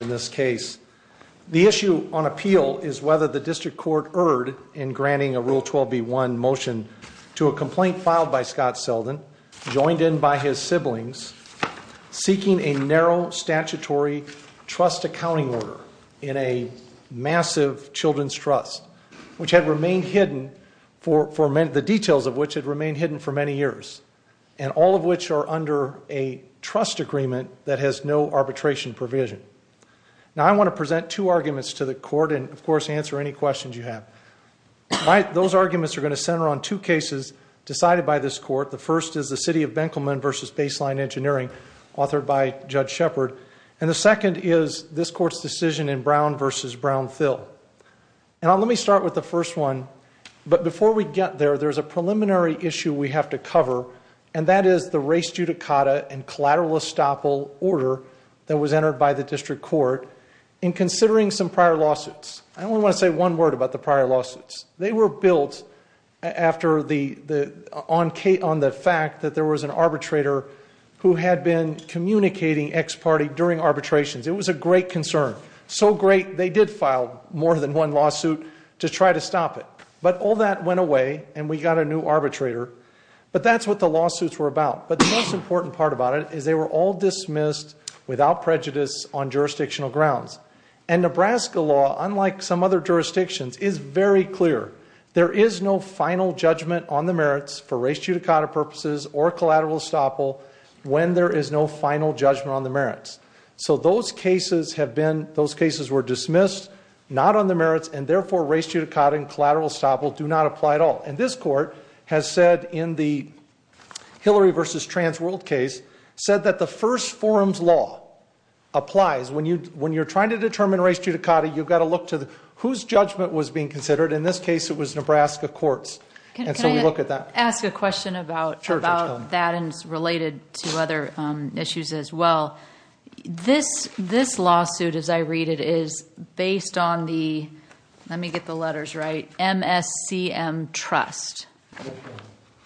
in this case. The issue on appeal is whether the district court erred in granting a Rule 12b1 motion to a complaint filed by Scott Seldin, joined in by his siblings, seeking a narrow statutory trust accounting order in a massive children's trust, which had remained hidden for the details of which had remained hidden for many years, and all of which are under a new arbitration provision. Now, I want to present two arguments to the court and, of course, answer any questions you have. Those arguments are going to center on two cases decided by this court. The first is the City of Benkelman v. Baseline Engineering, authored by Judge Shepard, and the second is this court's decision in Brown v. Brown-Thill. Now, let me start with the first one, but before we get there, there's a preliminary issue we have to cover, and that is the res judicata and collateral estoppel order that was entered by the district court in considering some prior lawsuits. I only want to say one word about the prior lawsuits. They were built on the fact that there was an arbitrator who had been communicating ex parte during arbitrations. It was a great concern, so great they did file more than one lawsuit to try to stop it, but all that went away and we got a new arbitrator, but that's what the lawsuits were about, but the most important part about it is they were all dismissed without prejudice on jurisdictional grounds, and Nebraska law, unlike some other jurisdictions, is very clear. There is no final judgment on the merits for res judicata purposes or collateral estoppel when there is no final judgment on the merits, so those cases have been, those cases were dismissed not on the merits, and therefore res judicata and collateral estoppel do not apply at all, and this Hillary v. Trans World case said that the first forms law applies when you're trying to determine res judicata, you've got to look to whose judgment was being considered. In this case, it was Nebraska courts, and so we look at that. Can I ask a question about that and related to other issues as well? This lawsuit, as I read it, is based on the, let me get the letters right, MSCM trust,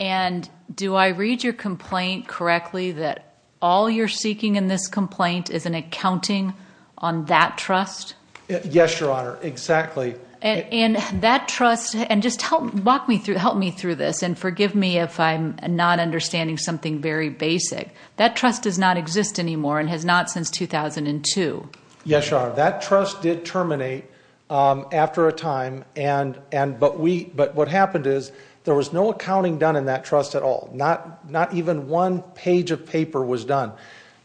and do I read your complaint correctly that all you're seeking in this complaint is an accounting on that trust? Yes, Your Honor, exactly. And that trust, and just walk me through, help me through this, and forgive me if I'm not understanding something very basic, that trust does not exist anymore and has not since 2002. Yes, Your Honor, that trust did terminate after a time, and, but what happened is there was no accounting done in that trust at all. Not even one page of paper was done.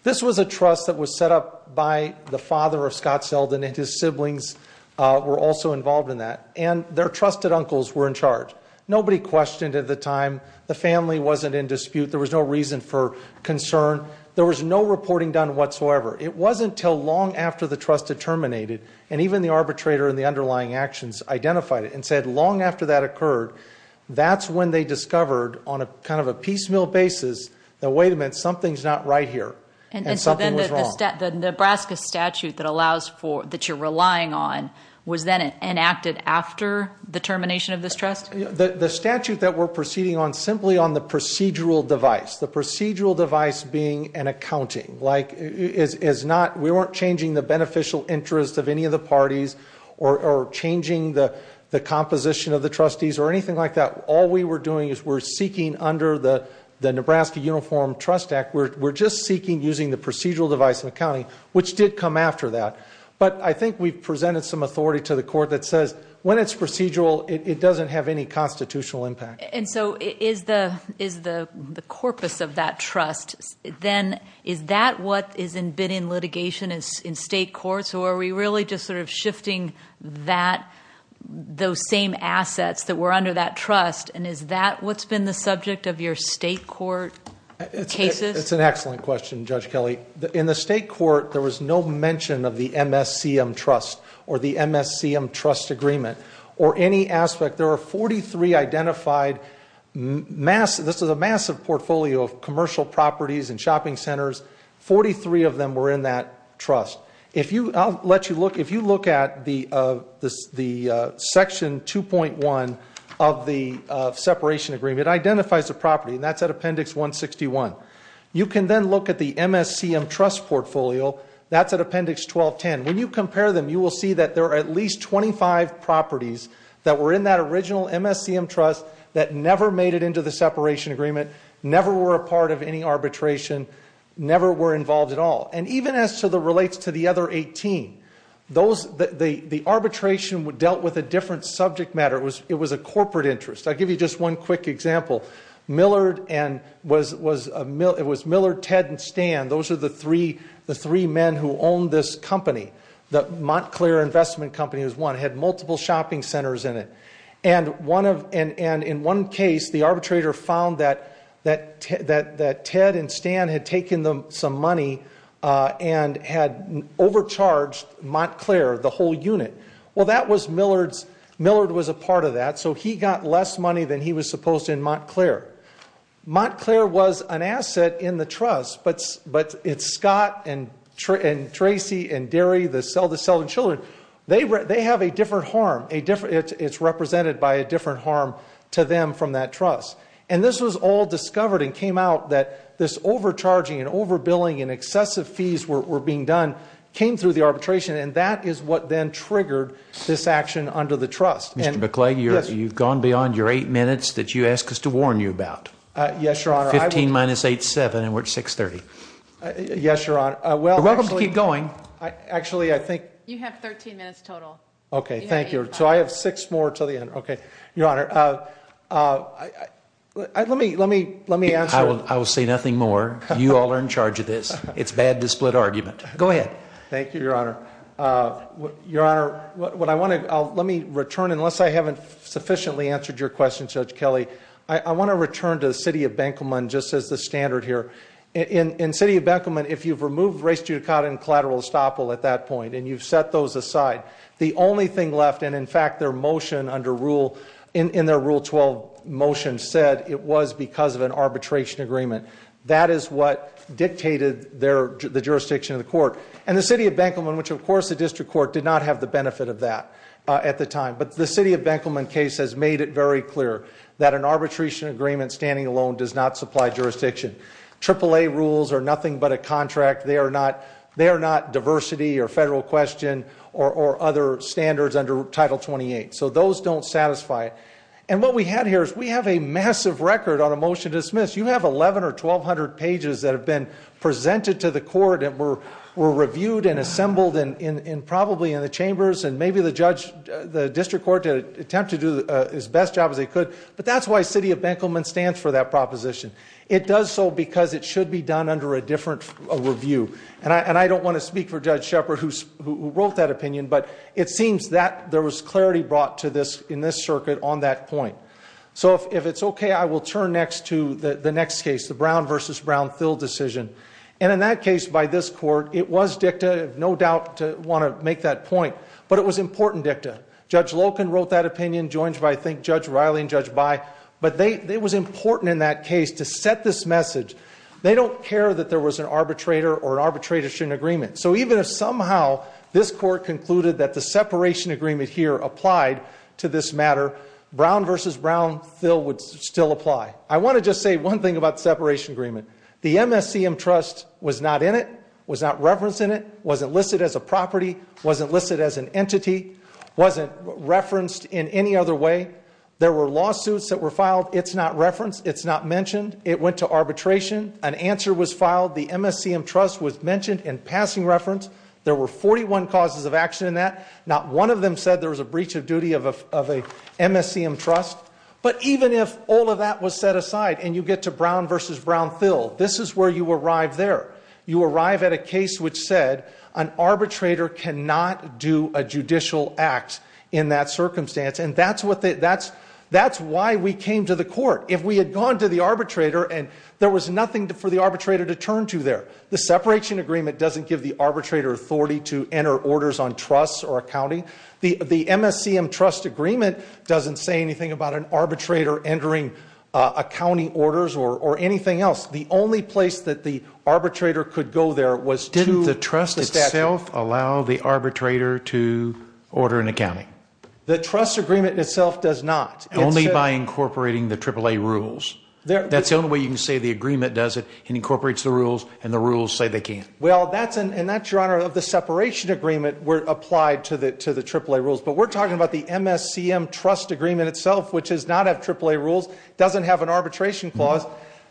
This was a trust that was set up by the father of Scott Selden, and his siblings were also involved in that, and their trusted uncles were in charge. Nobody questioned at the time, the family wasn't in dispute, there was no reason for concern, there was no reporting done whatsoever. It wasn't until long after the trust had terminated, and even the arbitrator and the underlying actions identified it and said long after that occurred, that's when they discovered on a kind of a piecemeal basis that, wait a minute, something's not right here, and something was wrong. And so then the Nebraska statute that allows for, that you're relying on, was then enacted after the termination of this trust? The statute that we're like, is not, we weren't changing the beneficial interest of any of the parties, or changing the composition of the trustees, or anything like that. All we were doing is we're seeking under the Nebraska Uniform Trust Act, we're just seeking using the procedural device and accounting, which did come after that. But I think we've presented some authority to the court that says, when it's procedural, it doesn't have any constitutional impact. And so is the corpus of that trust, then, is that what has been in litigation in state courts, or are we really just sort of shifting that, those same assets that were under that trust, and is that what's been the subject of your state court cases? It's an excellent question, Judge Kelly. In the state court, there was no mention of the MSCM trust, or the MSCM trust agreement, or any aspect. There are 43 identified, this is a massive portfolio of commercial properties and shopping centers, 43 of them were in that trust. If you, I'll let you look, if you look at the section 2.1 of the separation agreement, it identifies the property, and that's at appendix 161. You can then look at the MSCM trust portfolio, that's at appendix 1210. When you compare them, you will see that there are at least 25 properties that were in that original MSCM trust, that never made it into the separation agreement, never were a part of any arbitration, never were involved at all. And even as to the, relates to the other 18, those, the arbitration dealt with a different subject matter, it was a corporate interest. I'll give you just one quick example. Millard and, it was Millard, Ted, and Stan, those are the three men who owned this company. The Montclair Investment Company was one, had multiple shopping centers in it. And one of, and in one case, the arbitrator found that, that Ted and Stan had taken some money, and had overcharged Montclair, the whole unit. Well that was Millard's, Millard was a part of that, so he got less money than he was supposed to in Montclair. Montclair was an asset in the trust, but it's Scott and Tracy and Derry, the selling children, they have a different harm, a different, it's represented by a different harm to them from that trust. And this was all discovered and came out that this overcharging and overbilling and excessive fees were being done, came through the arbitration, and that is what then triggered this action under the trust. Mr. McClague, you've gone beyond your eight minutes that you ask us to warn you about. Yes, Your Honor. 15 minus eight, seven, and we're at 630. Yes, Your Honor. You're welcome to keep going. Actually, I think. You have 13 minutes total. Okay, thank you. So I have six more until the end. Okay, Your Honor. Let me, let me, let me answer. I will say nothing more. You all are in charge of this. It's bad to split argument. Go ahead. Thank you, Your Honor. Your Honor, what I want to, let me return, unless I haven't sufficiently answered your question, Judge Kelly, I want to return to the city of Benkelman just as the standard here. In, in city of Benkelman, if you've removed race judicata and collateral estoppel at that point, and you've set those aside, the only thing left, and in fact, their motion under rule, in their rule 12 motion said it was because of an arbitration agreement. That is what dictated their, the jurisdiction of the court. And the city of Benkelman, which of course, the district court did not have the benefit of that at the time. But the city of Benkelman case has made it very clear that an arbitration agreement standing alone does not supply jurisdiction. AAA rules are nothing but a contract. They are not, they are not diversity or federal question or, or other standards under title 28. So those don't satisfy it. And what we had here is we have a massive record on a motion to dismiss. You have 11 or 1200 pages that have been presented to the and probably in the chambers and maybe the judge, the district court to attempt to do as best job as they could. But that's why city of Benkelman stands for that proposition. It does so because it should be done under a different review. And I, and I don't want to speak for Judge Shepard who's, who wrote that opinion, but it seems that there was clarity brought to this in this circuit on that point. So if, if it's okay, I will turn next to the, the next case, the Brown versus Brown fill decision. And in that case, by this court, it was dicta of no doubt to want to make that point, but it was important dicta. Judge Loken wrote that opinion joined by think judge Riley and judge by, but they, it was important in that case to set this message. They don't care that there was an arbitrator or an arbitration agreement. So even if somehow this court concluded that the separation agreement here applied to this matter, Brown versus Brown, Phil would still apply. I want to just say one thing about wasn't listed as a property, wasn't listed as an entity, wasn't referenced in any other way. There were lawsuits that were filed. It's not referenced. It's not mentioned. It went to arbitration. An answer was filed. The MSCM trust was mentioned in passing reference. There were 41 causes of action in that. Not one of them said there was a breach of duty of a, of a MSCM trust. But even if all of that was set aside and you get to Brown versus Brown, this is where you arrive there. You arrive at a case which said an arbitrator cannot do a judicial act in that circumstance. And that's what the, that's, that's why we came to the court. If we had gone to the arbitrator and there was nothing for the arbitrator to turn to there, the separation agreement doesn't give the arbitrator authority to enter orders on trusts or accounting. The, the MSCM trust agreement doesn't say anything about an arbitrator entering a county orders or anything else. The only place that the arbitrator could go there was to- Didn't the trust itself allow the arbitrator to order an accounting? The trust agreement itself does not. Only by incorporating the AAA rules. There- That's the only way you can say the agreement does it, it incorporates the rules and the rules say they can't. Well, that's an, and that's your honor of the separation agreement were applied to the, to the AAA rules. But we're talking about the MSCM trust agreement itself, which does not have AAA rules, doesn't have an arbitration clause,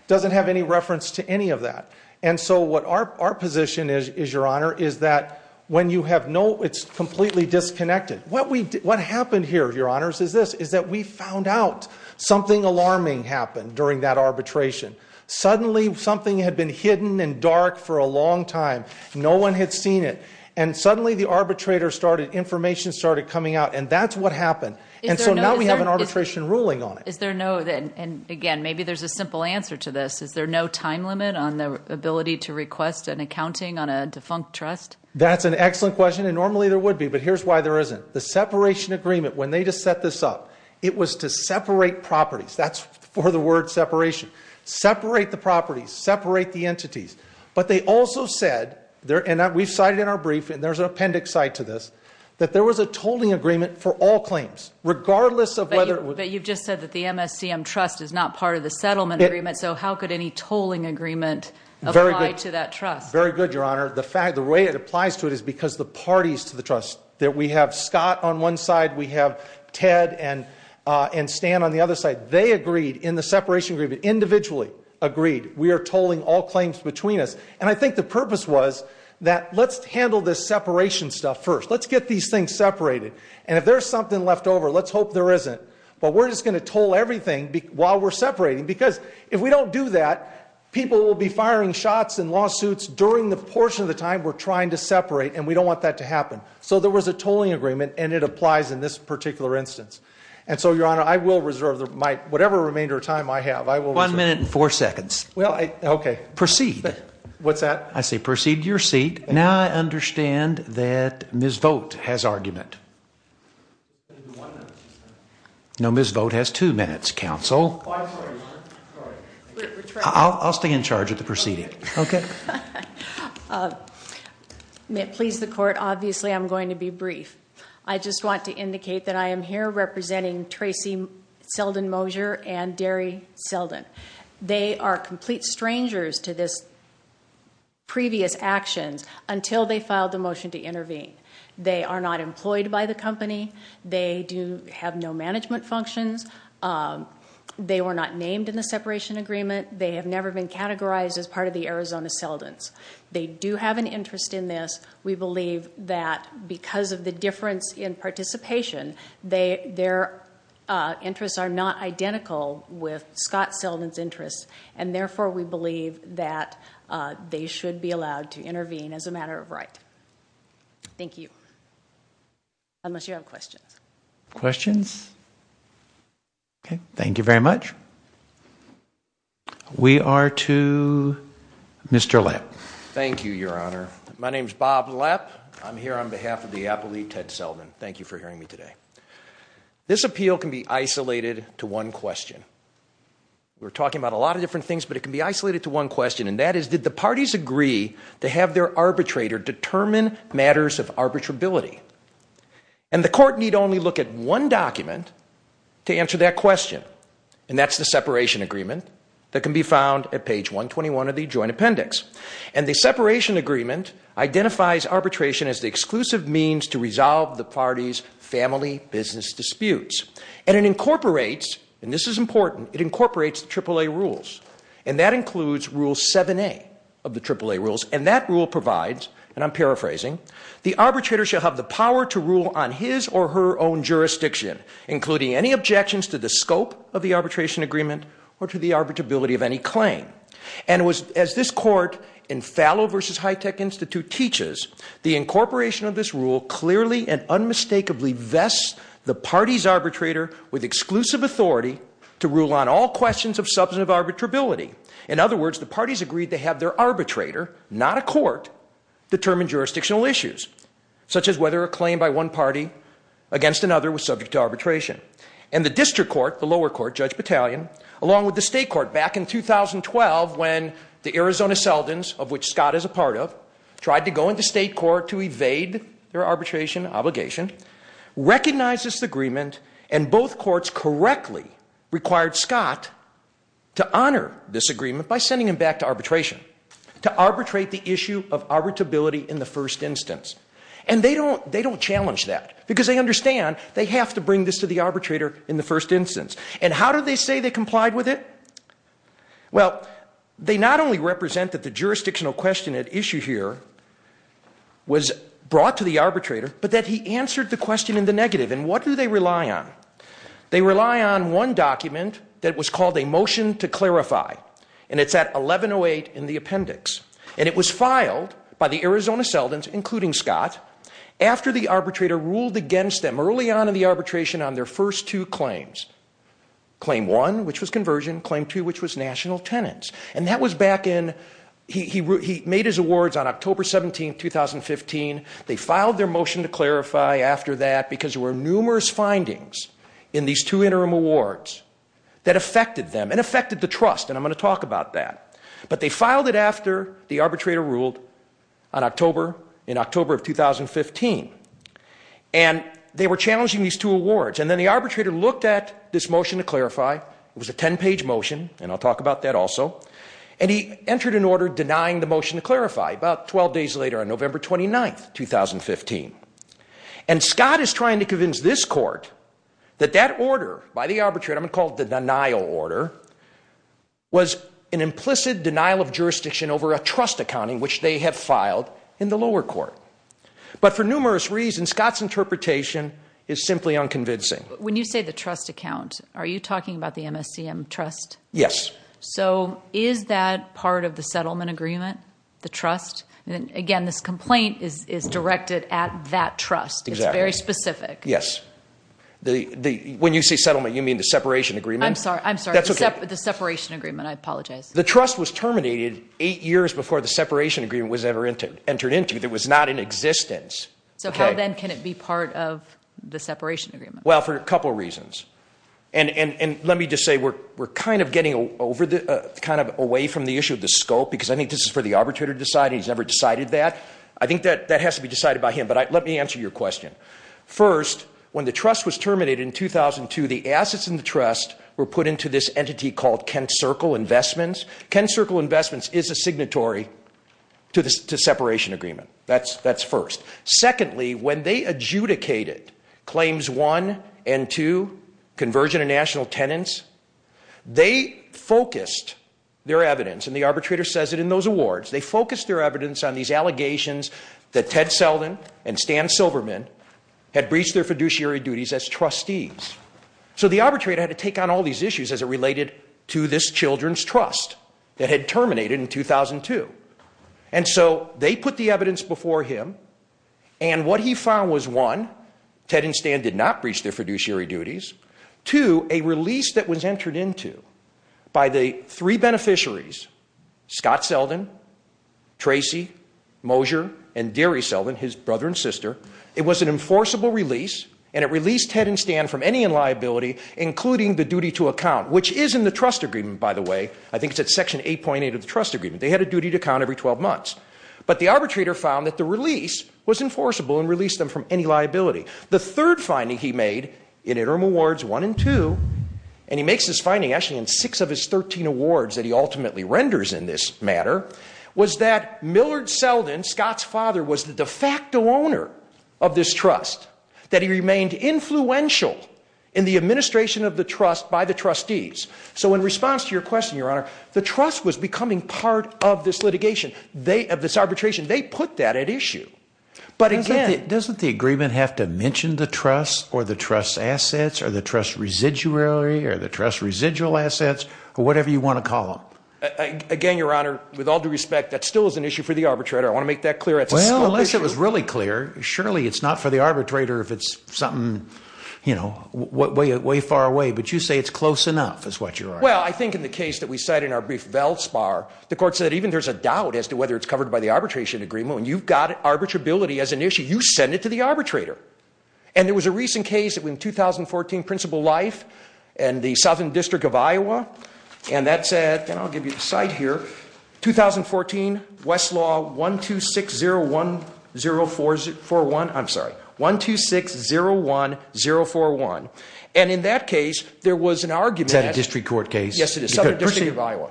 doesn't have any reference to any of that. And so what our, our position is, is your honor, is that when you have no, it's completely disconnected. What we, what happened here, your honors, is this, is that we found out something alarming happened during that arbitration. Suddenly something had been hidden and dark for a long time. No one had seen it. And suddenly the arbitrator started, information started coming out and that's what happened. And so now we have an arbitration ruling on it. Is there no, and again, maybe there's a simple answer to this, is there no time limit on the ability to request an accounting on a defunct trust? That's an excellent question. And normally there would be, but here's why there isn't. The separation agreement, when they just set this up, it was to separate properties. That's for the word separation. Separate the properties, separate the entities. But they also said there, and that we've cited in our brief, and there's an appendix side to this, that there was a tolling agreement for all claims, regardless of whether. But you've just said that the MSCM trust is not part of the settlement agreement, so how could any tolling agreement apply to that trust? Very good, your honor. The fact, the way it applies to it is because the parties to the trust, that we have Scott on one side, we have Ted and, uh, and Stan on the other side, they agreed in the separation agreement, individually agreed, we are tolling all claims between us. And I think the purpose was that let's handle this separation stuff first. Let's get these things separated. And if there's something left over, let's hope there isn't. But we're just going to toll everything while we're separating, because if we don't do that, people will be firing shots in lawsuits during the portion of the time we're trying to separate, and we don't want that to happen. So there was a tolling agreement, and it applies in this particular instance. And so, your honor, I will reserve my, whatever remainder of time I have, I will reserve. One minute and four seconds. Well, I, okay. Proceed. What's that? I say proceed to your seat. Now I understand that Ms. Vogt has argument. No, Ms. Vogt has two minutes, counsel. Oh, I'm sorry, your honor. Sorry. I'll stay in charge of the proceeding. Okay. May it please the court, obviously I'm going to be brief. I just want to indicate that I am here representing Tracy Selden Mosier and Derry Selden. They are complete strangers to this until they filed the motion to intervene. They are not employed by the company. They do have no management functions. They were not named in the separation agreement. They have never been categorized as part of the Arizona Seldens. They do have an interest in this. We believe that because of the difference in participation, their interests are not identical with Scott Selden's interests, and therefore we believe that they should be allowed to intervene as a matter of right. Thank you. Unless you have questions. Questions? Okay. Thank you very much. We are to Mr. Lapp. Thank you, your honor. My name is Bob Lapp. I'm here on behalf of the appellee, Ted Selden. Thank you for hearing me today. This appeal can be isolated to one question. We're talking about a lot of different things, but it can be isolated to one question, and that is, did the parties agree to have their arbitrator determine matters of arbitrability? And the court need only look at one document to answer that question, and that's the separation agreement that can be found at page 121 of the joint appendix. And the separation agreement identifies arbitration as the exclusive means to resolve the party's family business disputes. And it incorporates, and this is and that rule provides, and I'm paraphrasing, the arbitrator shall have the power to rule on his or her own jurisdiction, including any objections to the scope of the arbitration agreement or to the arbitrability of any claim. And as this court in Fallow versus Hitech Institute teaches, the incorporation of this rule clearly and unmistakably vests the party's arbitrator with exclusive authority to rule on all questions of substantive arbitrability. In other words, the parties agreed to have their arbitrator, not a court, determine jurisdictional issues, such as whether a claim by one party against another was subject to arbitration. And the district court, the lower court, Judge Battalion, along with the state court back in 2012 when the Arizona Seldons, of which Scott is a part of, tried to go into state court to evade their arbitration obligation, recognized this agreement, and both courts correctly required Scott to honor this agreement by sending him back to arbitration, to arbitrate the issue of arbitrability in the first instance. And they don't challenge that, because they understand they have to bring this to the arbitrator in the first instance. And how do they say they complied with it? Well, they not only represent that the jurisdictional question at issue here was brought to the arbitrator, but that he answered the question in the negative. And what do they rely on? They rely on one document that was called a motion to clarify. And it's at 1108 in the appendix. And it was filed by the Arizona Seldons, including Scott, after the arbitrator ruled against them early on in the arbitration on their first two claims. Claim one, which was conversion. Claim two, which was national tenants. And that was back in, he made his awards on October 17, 2015. They filed their motion to clarify after that, because there were numerous findings in these two interim awards that affected them and affected the trust. And I'm going to talk about that. But they filed it after the arbitrator ruled on October, in October of 2015. And they were challenging these two awards. And then the arbitrator looked at this motion to clarify. It was a 10-page motion, and I'll talk about that also. And he entered an order denying the motion to clarify about 12 days later on November 29, 2015. And Scott is trying to convince this court that that order by the arbitrator, I'm going to call it the denial order, was an implicit denial of jurisdiction over a trust accounting, which they have filed in the lower court. But for numerous reasons, Scott's interpretation is simply unconvincing. When you say the trust account, are you talking about the MSCM trust? Yes. So is that part of the settlement agreement, the trust? And again, this complaint is directed at that trust. It's very specific. Yes. When you say settlement, you mean the separation agreement? I'm sorry. I'm sorry. The separation agreement. I apologize. The trust was terminated eight years before the separation agreement was ever entered into. It was not in existence. So how then can it be part of the separation agreement? Well, for a couple of reasons. And let me just say, we're kind of getting away from the issue of the scope, because I think this is for the arbitrator to decide. He's never decided that. I think that has to be decided by him. But let me answer your question. First, when the trust was terminated in 2002, the assets in the trust were put into this entity called Kent Circle Investments. Kent Circle Investments is a signatory to the separation agreement. That's first. Secondly, when they adjudicated claims one and two, conversion of national tenants, they focused their evidence, and the arbitrator says it in those awards, they focused their evidence on these allegations that Ted Selden and Stan Silberman had breached their fiduciary duties as trustees. So the arbitrator had to take on all these issues as it related to this children's trust that had terminated in 2002. And so they put the evidence before him, and what he found was one, Ted and Stan did not breach their fiduciary duties. Two, a release that was entered into by the three beneficiaries, Scott Selden, Tracy Mosier, and Gary Selden, his brother and sister, it was an enforceable release, and it released Ted and Stan from any liability, including the duty to account, which is in the trust agreement, by the way. I think it's at section 8.8 of the trust agreement. They had a duty to account every 12 months. But the arbitrator found that the release was enforceable and released them from any liability. The third finding he made in interim awards 1 and 2, and he makes this finding actually in six of his 13 awards that he ultimately renders in this matter, was that Millard Selden, Scott's father, was the de facto owner of this trust, that he remained influential in the administration of the trust by the trustees. So in response to your question, your honor, the trust was becoming part of this litigation, of this arbitration. They put that at issue. But again- Assets, or the trust residuary, or the trust residual assets, or whatever you want to call them. Again, your honor, with all due respect, that still is an issue for the arbitrator. I want to make that clear. Well, unless it was really clear, surely it's not for the arbitrator if it's something, you know, way far away. But you say it's close enough, is what you're arguing. Well, I think in the case that we cite in our brief, Valspar, the court said even there's a doubt as to whether it's covered by the arbitration agreement. When you've got arbitrability as an arbitrator. And there was a recent case in 2014, Principal Life, and the Southern District of Iowa, and that said, and I'll give you the site here, 2014, Westlaw 12601041, I'm sorry, 12601041. And in that case, there was an argument- Is that a district court case? Yes, it is. Southern District of Iowa.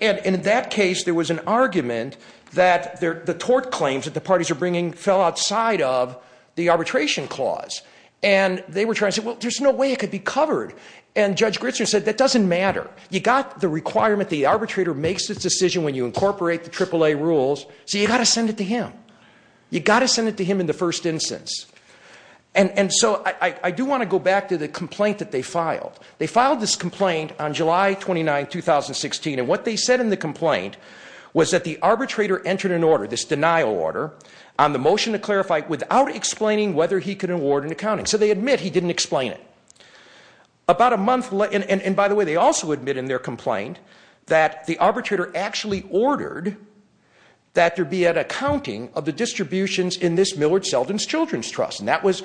And in that case, there was an argument that the court claims that the parties are bringing fell outside of the arbitration clause. And they were trying to say, well, there's no way it could be covered. And Judge Gritzer said, that doesn't matter. You got the requirement, the arbitrator makes the decision when you incorporate the AAA rules, so you got to send it to him. You got to send it to him in the first instance. And so I do want to go back to the complaint that they filed. They filed this complaint on July 29, 2016. And they said in the complaint was that the arbitrator entered an order, this denial order, on the motion to clarify without explaining whether he could award an accounting. So they admit he didn't explain it. About a month later, and by the way, they also admit in their complaint that the arbitrator actually ordered that there be an accounting of the distributions in this Millard Seldin Children's Trust. And that was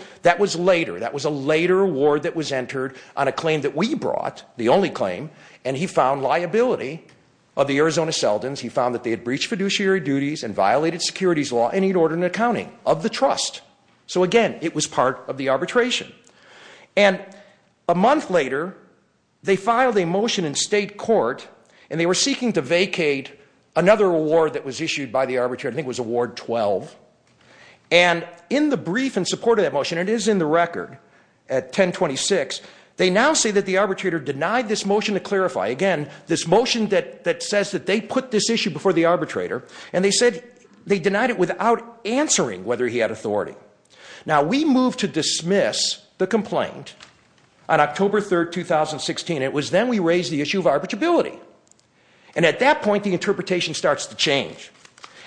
later. That was a later award that was entered on a claim that we brought, the only claim, and he found liability of the Arizona Seldins. He found that they had breached fiduciary duties and violated securities law, and he had ordered an accounting of the trust. So again, it was part of the arbitration. And a month later, they filed a motion in state court, and they were seeking to vacate another award that was issued by the arbitrator. I think it was Award 12. And in the brief in support of that motion, it is in the record at 1026, they now say that the arbitrator denied this motion to clarify. Again, this motion that says that they put this issue before the arbitrator, and they said they denied it without answering whether he had authority. Now, we moved to dismiss the complaint on October 3rd, 2016. It was then we raised the issue of arbitrability. And at that point, the interpretation starts to change.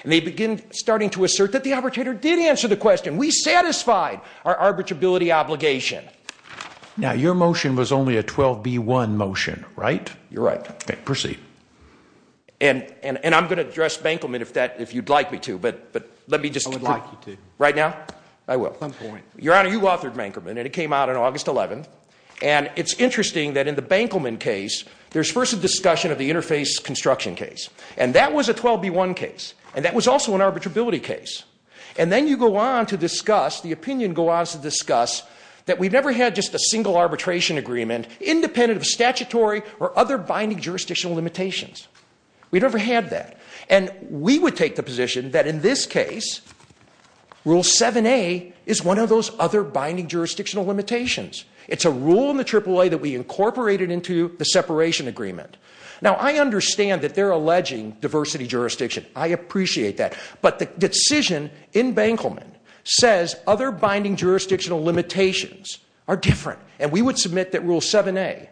And they begin starting to assert that the arbitrator did question. We satisfied our arbitrability obligation. Now, your motion was only a 12B1 motion, right? You're right. Okay, proceed. And I'm going to address Bankelman if you'd like me to, but let me just- I would like you to. Right now? I will. At some point. Your Honor, you authored Bankelman, and it came out on August 11th. And it's interesting that in the Bankelman case, there's first a discussion of the interface construction case. And that was a the opinion go on to discuss that we've never had just a single arbitration agreement independent of statutory or other binding jurisdictional limitations. We'd never had that. And we would take the position that in this case, Rule 7A is one of those other binding jurisdictional limitations. It's a rule in the AAA that we incorporated into the separation agreement. Now, I understand that they're alleging diversity jurisdiction. I appreciate that. But the decision in Bankelman says other binding jurisdictional limitations are different. And we would submit that Rule 7A,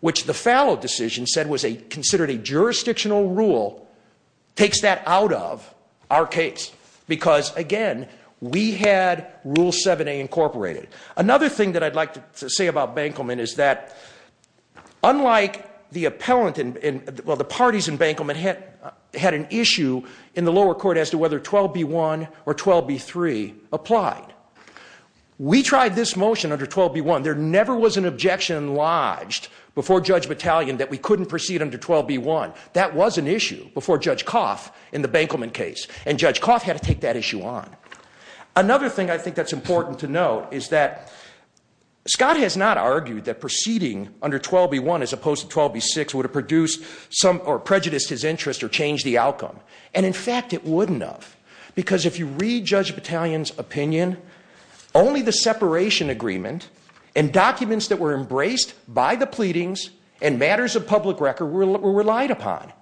which the Fallot decision said was a considered a jurisdictional rule, takes that out of our case. Because again, we had Rule 7A incorporated. Another thing that I'd like to say about Bankelman is that unlike the appellant and well, the parties in Bankelman had an issue in the lower court as to whether 12B1 or 12B3 applied. We tried this motion under 12B1. There never was an objection lodged before Judge Battalion that we couldn't proceed under 12B1. That was an issue before Judge Coff in the Bankelman case. And Judge Coff had to take that issue on. Another thing I think that's important to note is that Scott has not argued that proceeding under 12B1 as opposed to 12B6 would have produced some or prejudiced his interest or changed the outcome. And in fact, it wouldn't have. Because if you read Judge Battalion's opinion, only the separation agreement and documents that were embraced by the pleadings and matters of public record were relied upon.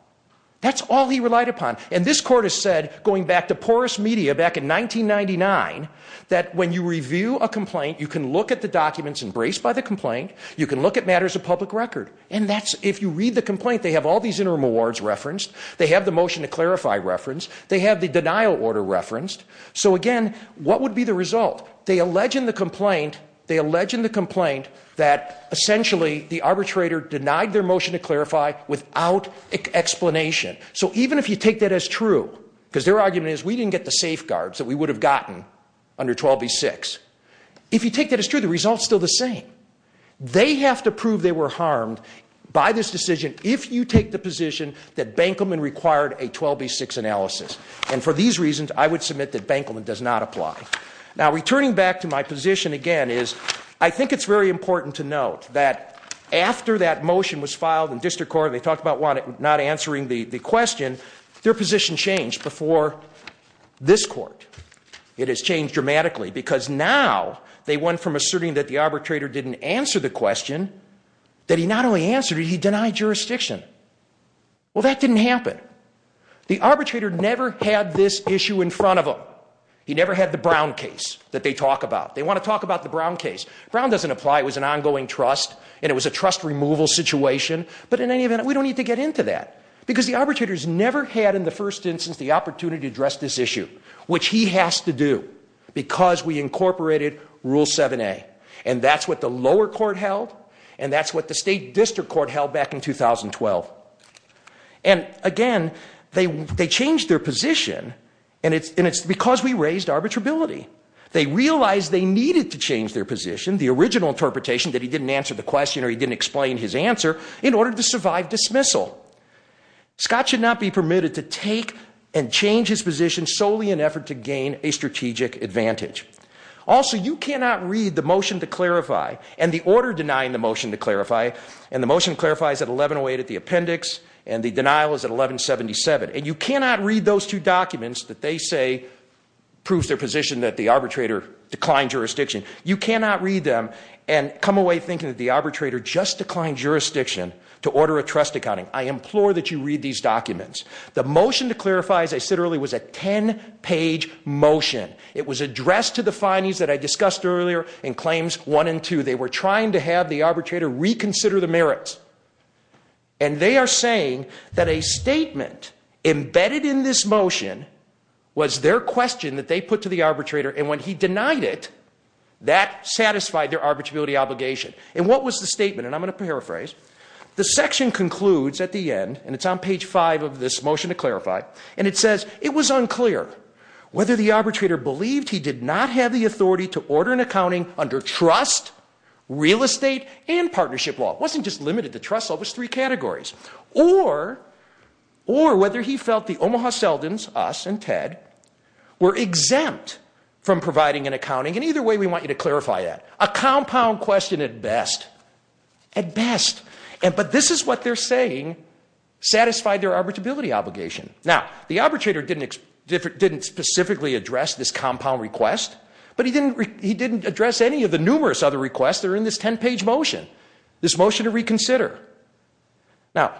That's all he relied upon. And this court has said, going back to porous media back in 1999, that when you review a complaint, you can look at the documents embraced by the complaint, you can look at matters of public record. And if you read the complaint, they have all these interim awards referenced, they have the motion to clarify referenced, they have the denial order referenced. So again, what would be the result? They allege in the complaint that essentially the arbitrator denied their motion to clarify without explanation. So even if you take that as true, because their argument is we didn't get the safeguards that we would have gotten under 12B6, if you take that as true, the result's still the same. They have to prove they were harmed by this decision if you take the position that Bankelman required a 12B6 analysis. And for these reasons, I would submit that Bankelman does not apply. Now, returning back to my position again is I think it's very important to note that after that motion was filed in district court, and they talked about not answering the question, their position changed before this court. It has changed dramatically because now they went from asserting that the arbitrator didn't answer the question, that he not only answered it, he denied jurisdiction. Well, that didn't happen. The arbitrator never had this issue in front of them. He never had the Brown case that they talk about. They want to talk about the Brown case. Brown doesn't apply. It was an ongoing trust, and it was a trust removal situation. But in any case, the arbitrator's never had in the first instance the opportunity to address this issue, which he has to do because we incorporated Rule 7A. And that's what the lower court held, and that's what the state district court held back in 2012. And again, they changed their position, and it's because we raised arbitrability. They realized they needed to change their position, the original interpretation that he didn't answer the question or he didn't explain his answer, in order to survive dismissal. Scott should not be permitted to take and change his position solely in effort to gain a strategic advantage. Also, you cannot read the motion to clarify and the order denying the motion to clarify, and the motion clarifies at 1108 at the appendix, and the denial is at 1177. And you cannot read those two documents that they say proves their position that the arbitrator declined jurisdiction. You cannot read them and come away thinking that the arbitrator just declined jurisdiction to order a trust accounting. I implore that you read these documents. The motion to clarify, as I said earlier, was a 10-page motion. It was addressed to the findings that I discussed earlier in Claims 1 and 2. They were trying to have the arbitrator reconsider the merits. And they are saying that a statement embedded in this motion was their question that they put to the arbitrator, and when he denied it, that satisfied their arbitrability obligation. And what was the statement? And I'm going to paraphrase. The section concludes at the end, and it's on page five of this motion to clarify, and it says, it was unclear whether the arbitrator believed he did not have the authority to order an accounting under trust, real estate, and partnership law. It wasn't just limited to trust law. It was three categories. Or whether he felt the Omaha Seldons, us, and Ted were exempt from providing an accounting. And either way, we want you to clarify that. A compound question at best. At best. But this is what they're saying satisfied their arbitrability obligation. Now, the arbitrator didn't specifically address this compound request, but he didn't address any of the numerous other requests that are in this 10-page motion, this motion to reconsider. Now,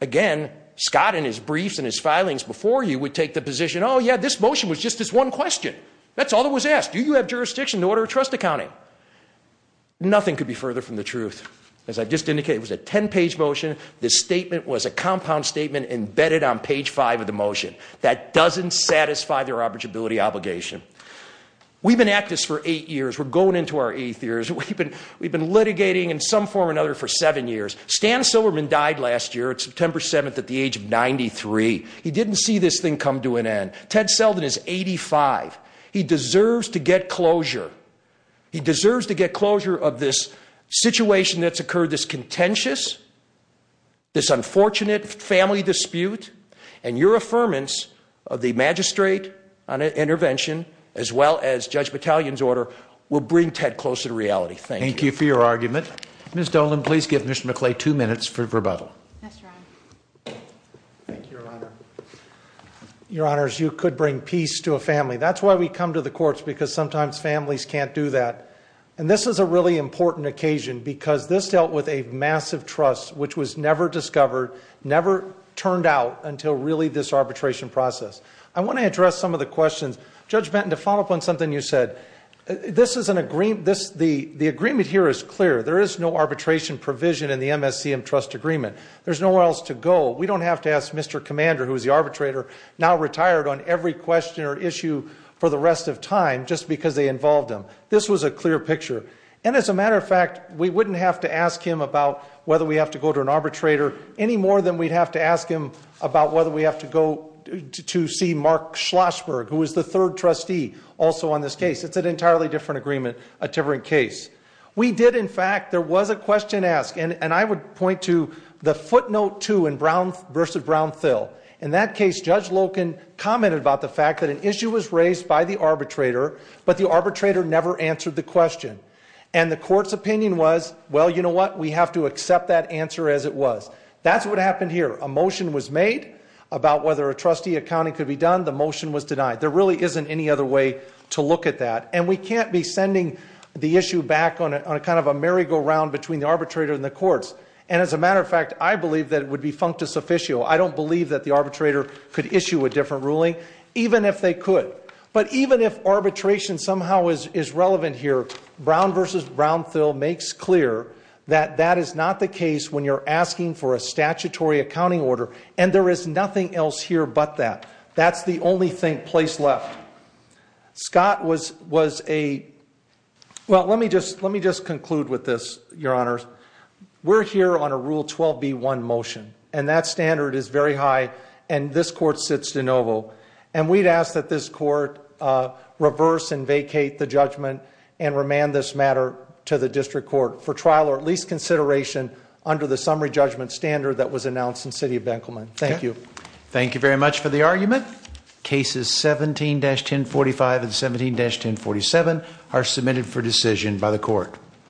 again, Scott and his briefs and his filings before you would take the position, oh, yeah, this motion was just this one question. That's all that was asked. Do you have jurisdiction to order a trust accounting? Nothing could be further from the truth. As I've just indicated, it was a 10-page motion. The statement was a compound statement embedded on page five of the motion. That doesn't satisfy their arbitrability obligation. We've been at this for eight years. We're going into our eighth years. We've been litigating in some form or another for seven years. Stan Silverman died last year, September 7th at the Ted Seldin is 85. He deserves to get closure. He deserves to get closure of this situation that's occurred, this contentious, this unfortunate family dispute and your affirmance of the magistrate on intervention as well as Judge Battalion's order will bring Ted closer to reality. Thank you for your argument. Ms. Dolan, please give Mr. McClay two minutes for rebuttal. Yes, Your Honor. Thank you, Your Honor. Your Honors, you could bring peace to a family. That's why we come to the courts because sometimes families can't do that. This is a really important occasion because this dealt with a massive trust which was never discovered, never turned out until really this arbitration process. I want to address some of the questions. Judge Benton, to follow up on something you said, the agreement here is clear. There is no where else to go. We don't have to ask Mr. Commander, who is the arbitrator, now retired on every question or issue for the rest of time just because they involved him. This was a clear picture. As a matter of fact, we wouldn't have to ask him about whether we have to go to an arbitrator any more than we'd have to ask him about whether we have to go to see Mark Schlossberg, who is the third trustee also on this case. It's an entirely different agreement, a different case. We did, in fact, there was a question asked and I would point to the footnote two in Brown v. Brown-Thill. In that case, Judge Loken commented about the fact that an issue was raised by the arbitrator, but the arbitrator never answered the question. And the court's opinion was, well, you know what, we have to accept that answer as it was. That's what happened here. A motion was made about whether a trustee accounting could be done. The motion was denied. There really isn't any other way to look at that. And we can't be sending the issue back on a kind of a merry-go-round between the arbitrator and the courts. And as a matter of fact, I believe that it would be functus officio. I don't believe that the arbitrator could issue a different ruling, even if they could. But even if arbitration somehow is relevant here, Brown v. Brown-Thill makes clear that that is not the case when you're asking for a statutory accounting order, and there is nothing else here but that. That's the only place left. Scott was a, well, let me just conclude with this, Your Honors. We're here on a Rule 12b-1 motion, and that standard is very high, and this court sits de novo. And we'd ask that this court reverse and vacate the judgment and remand this matter to the district court for trial or at standard that was announced in the City of Benkelman. Thank you. Thank you very much for the argument. Cases 17-1045 and 17-1047 are submitted for decision by the court.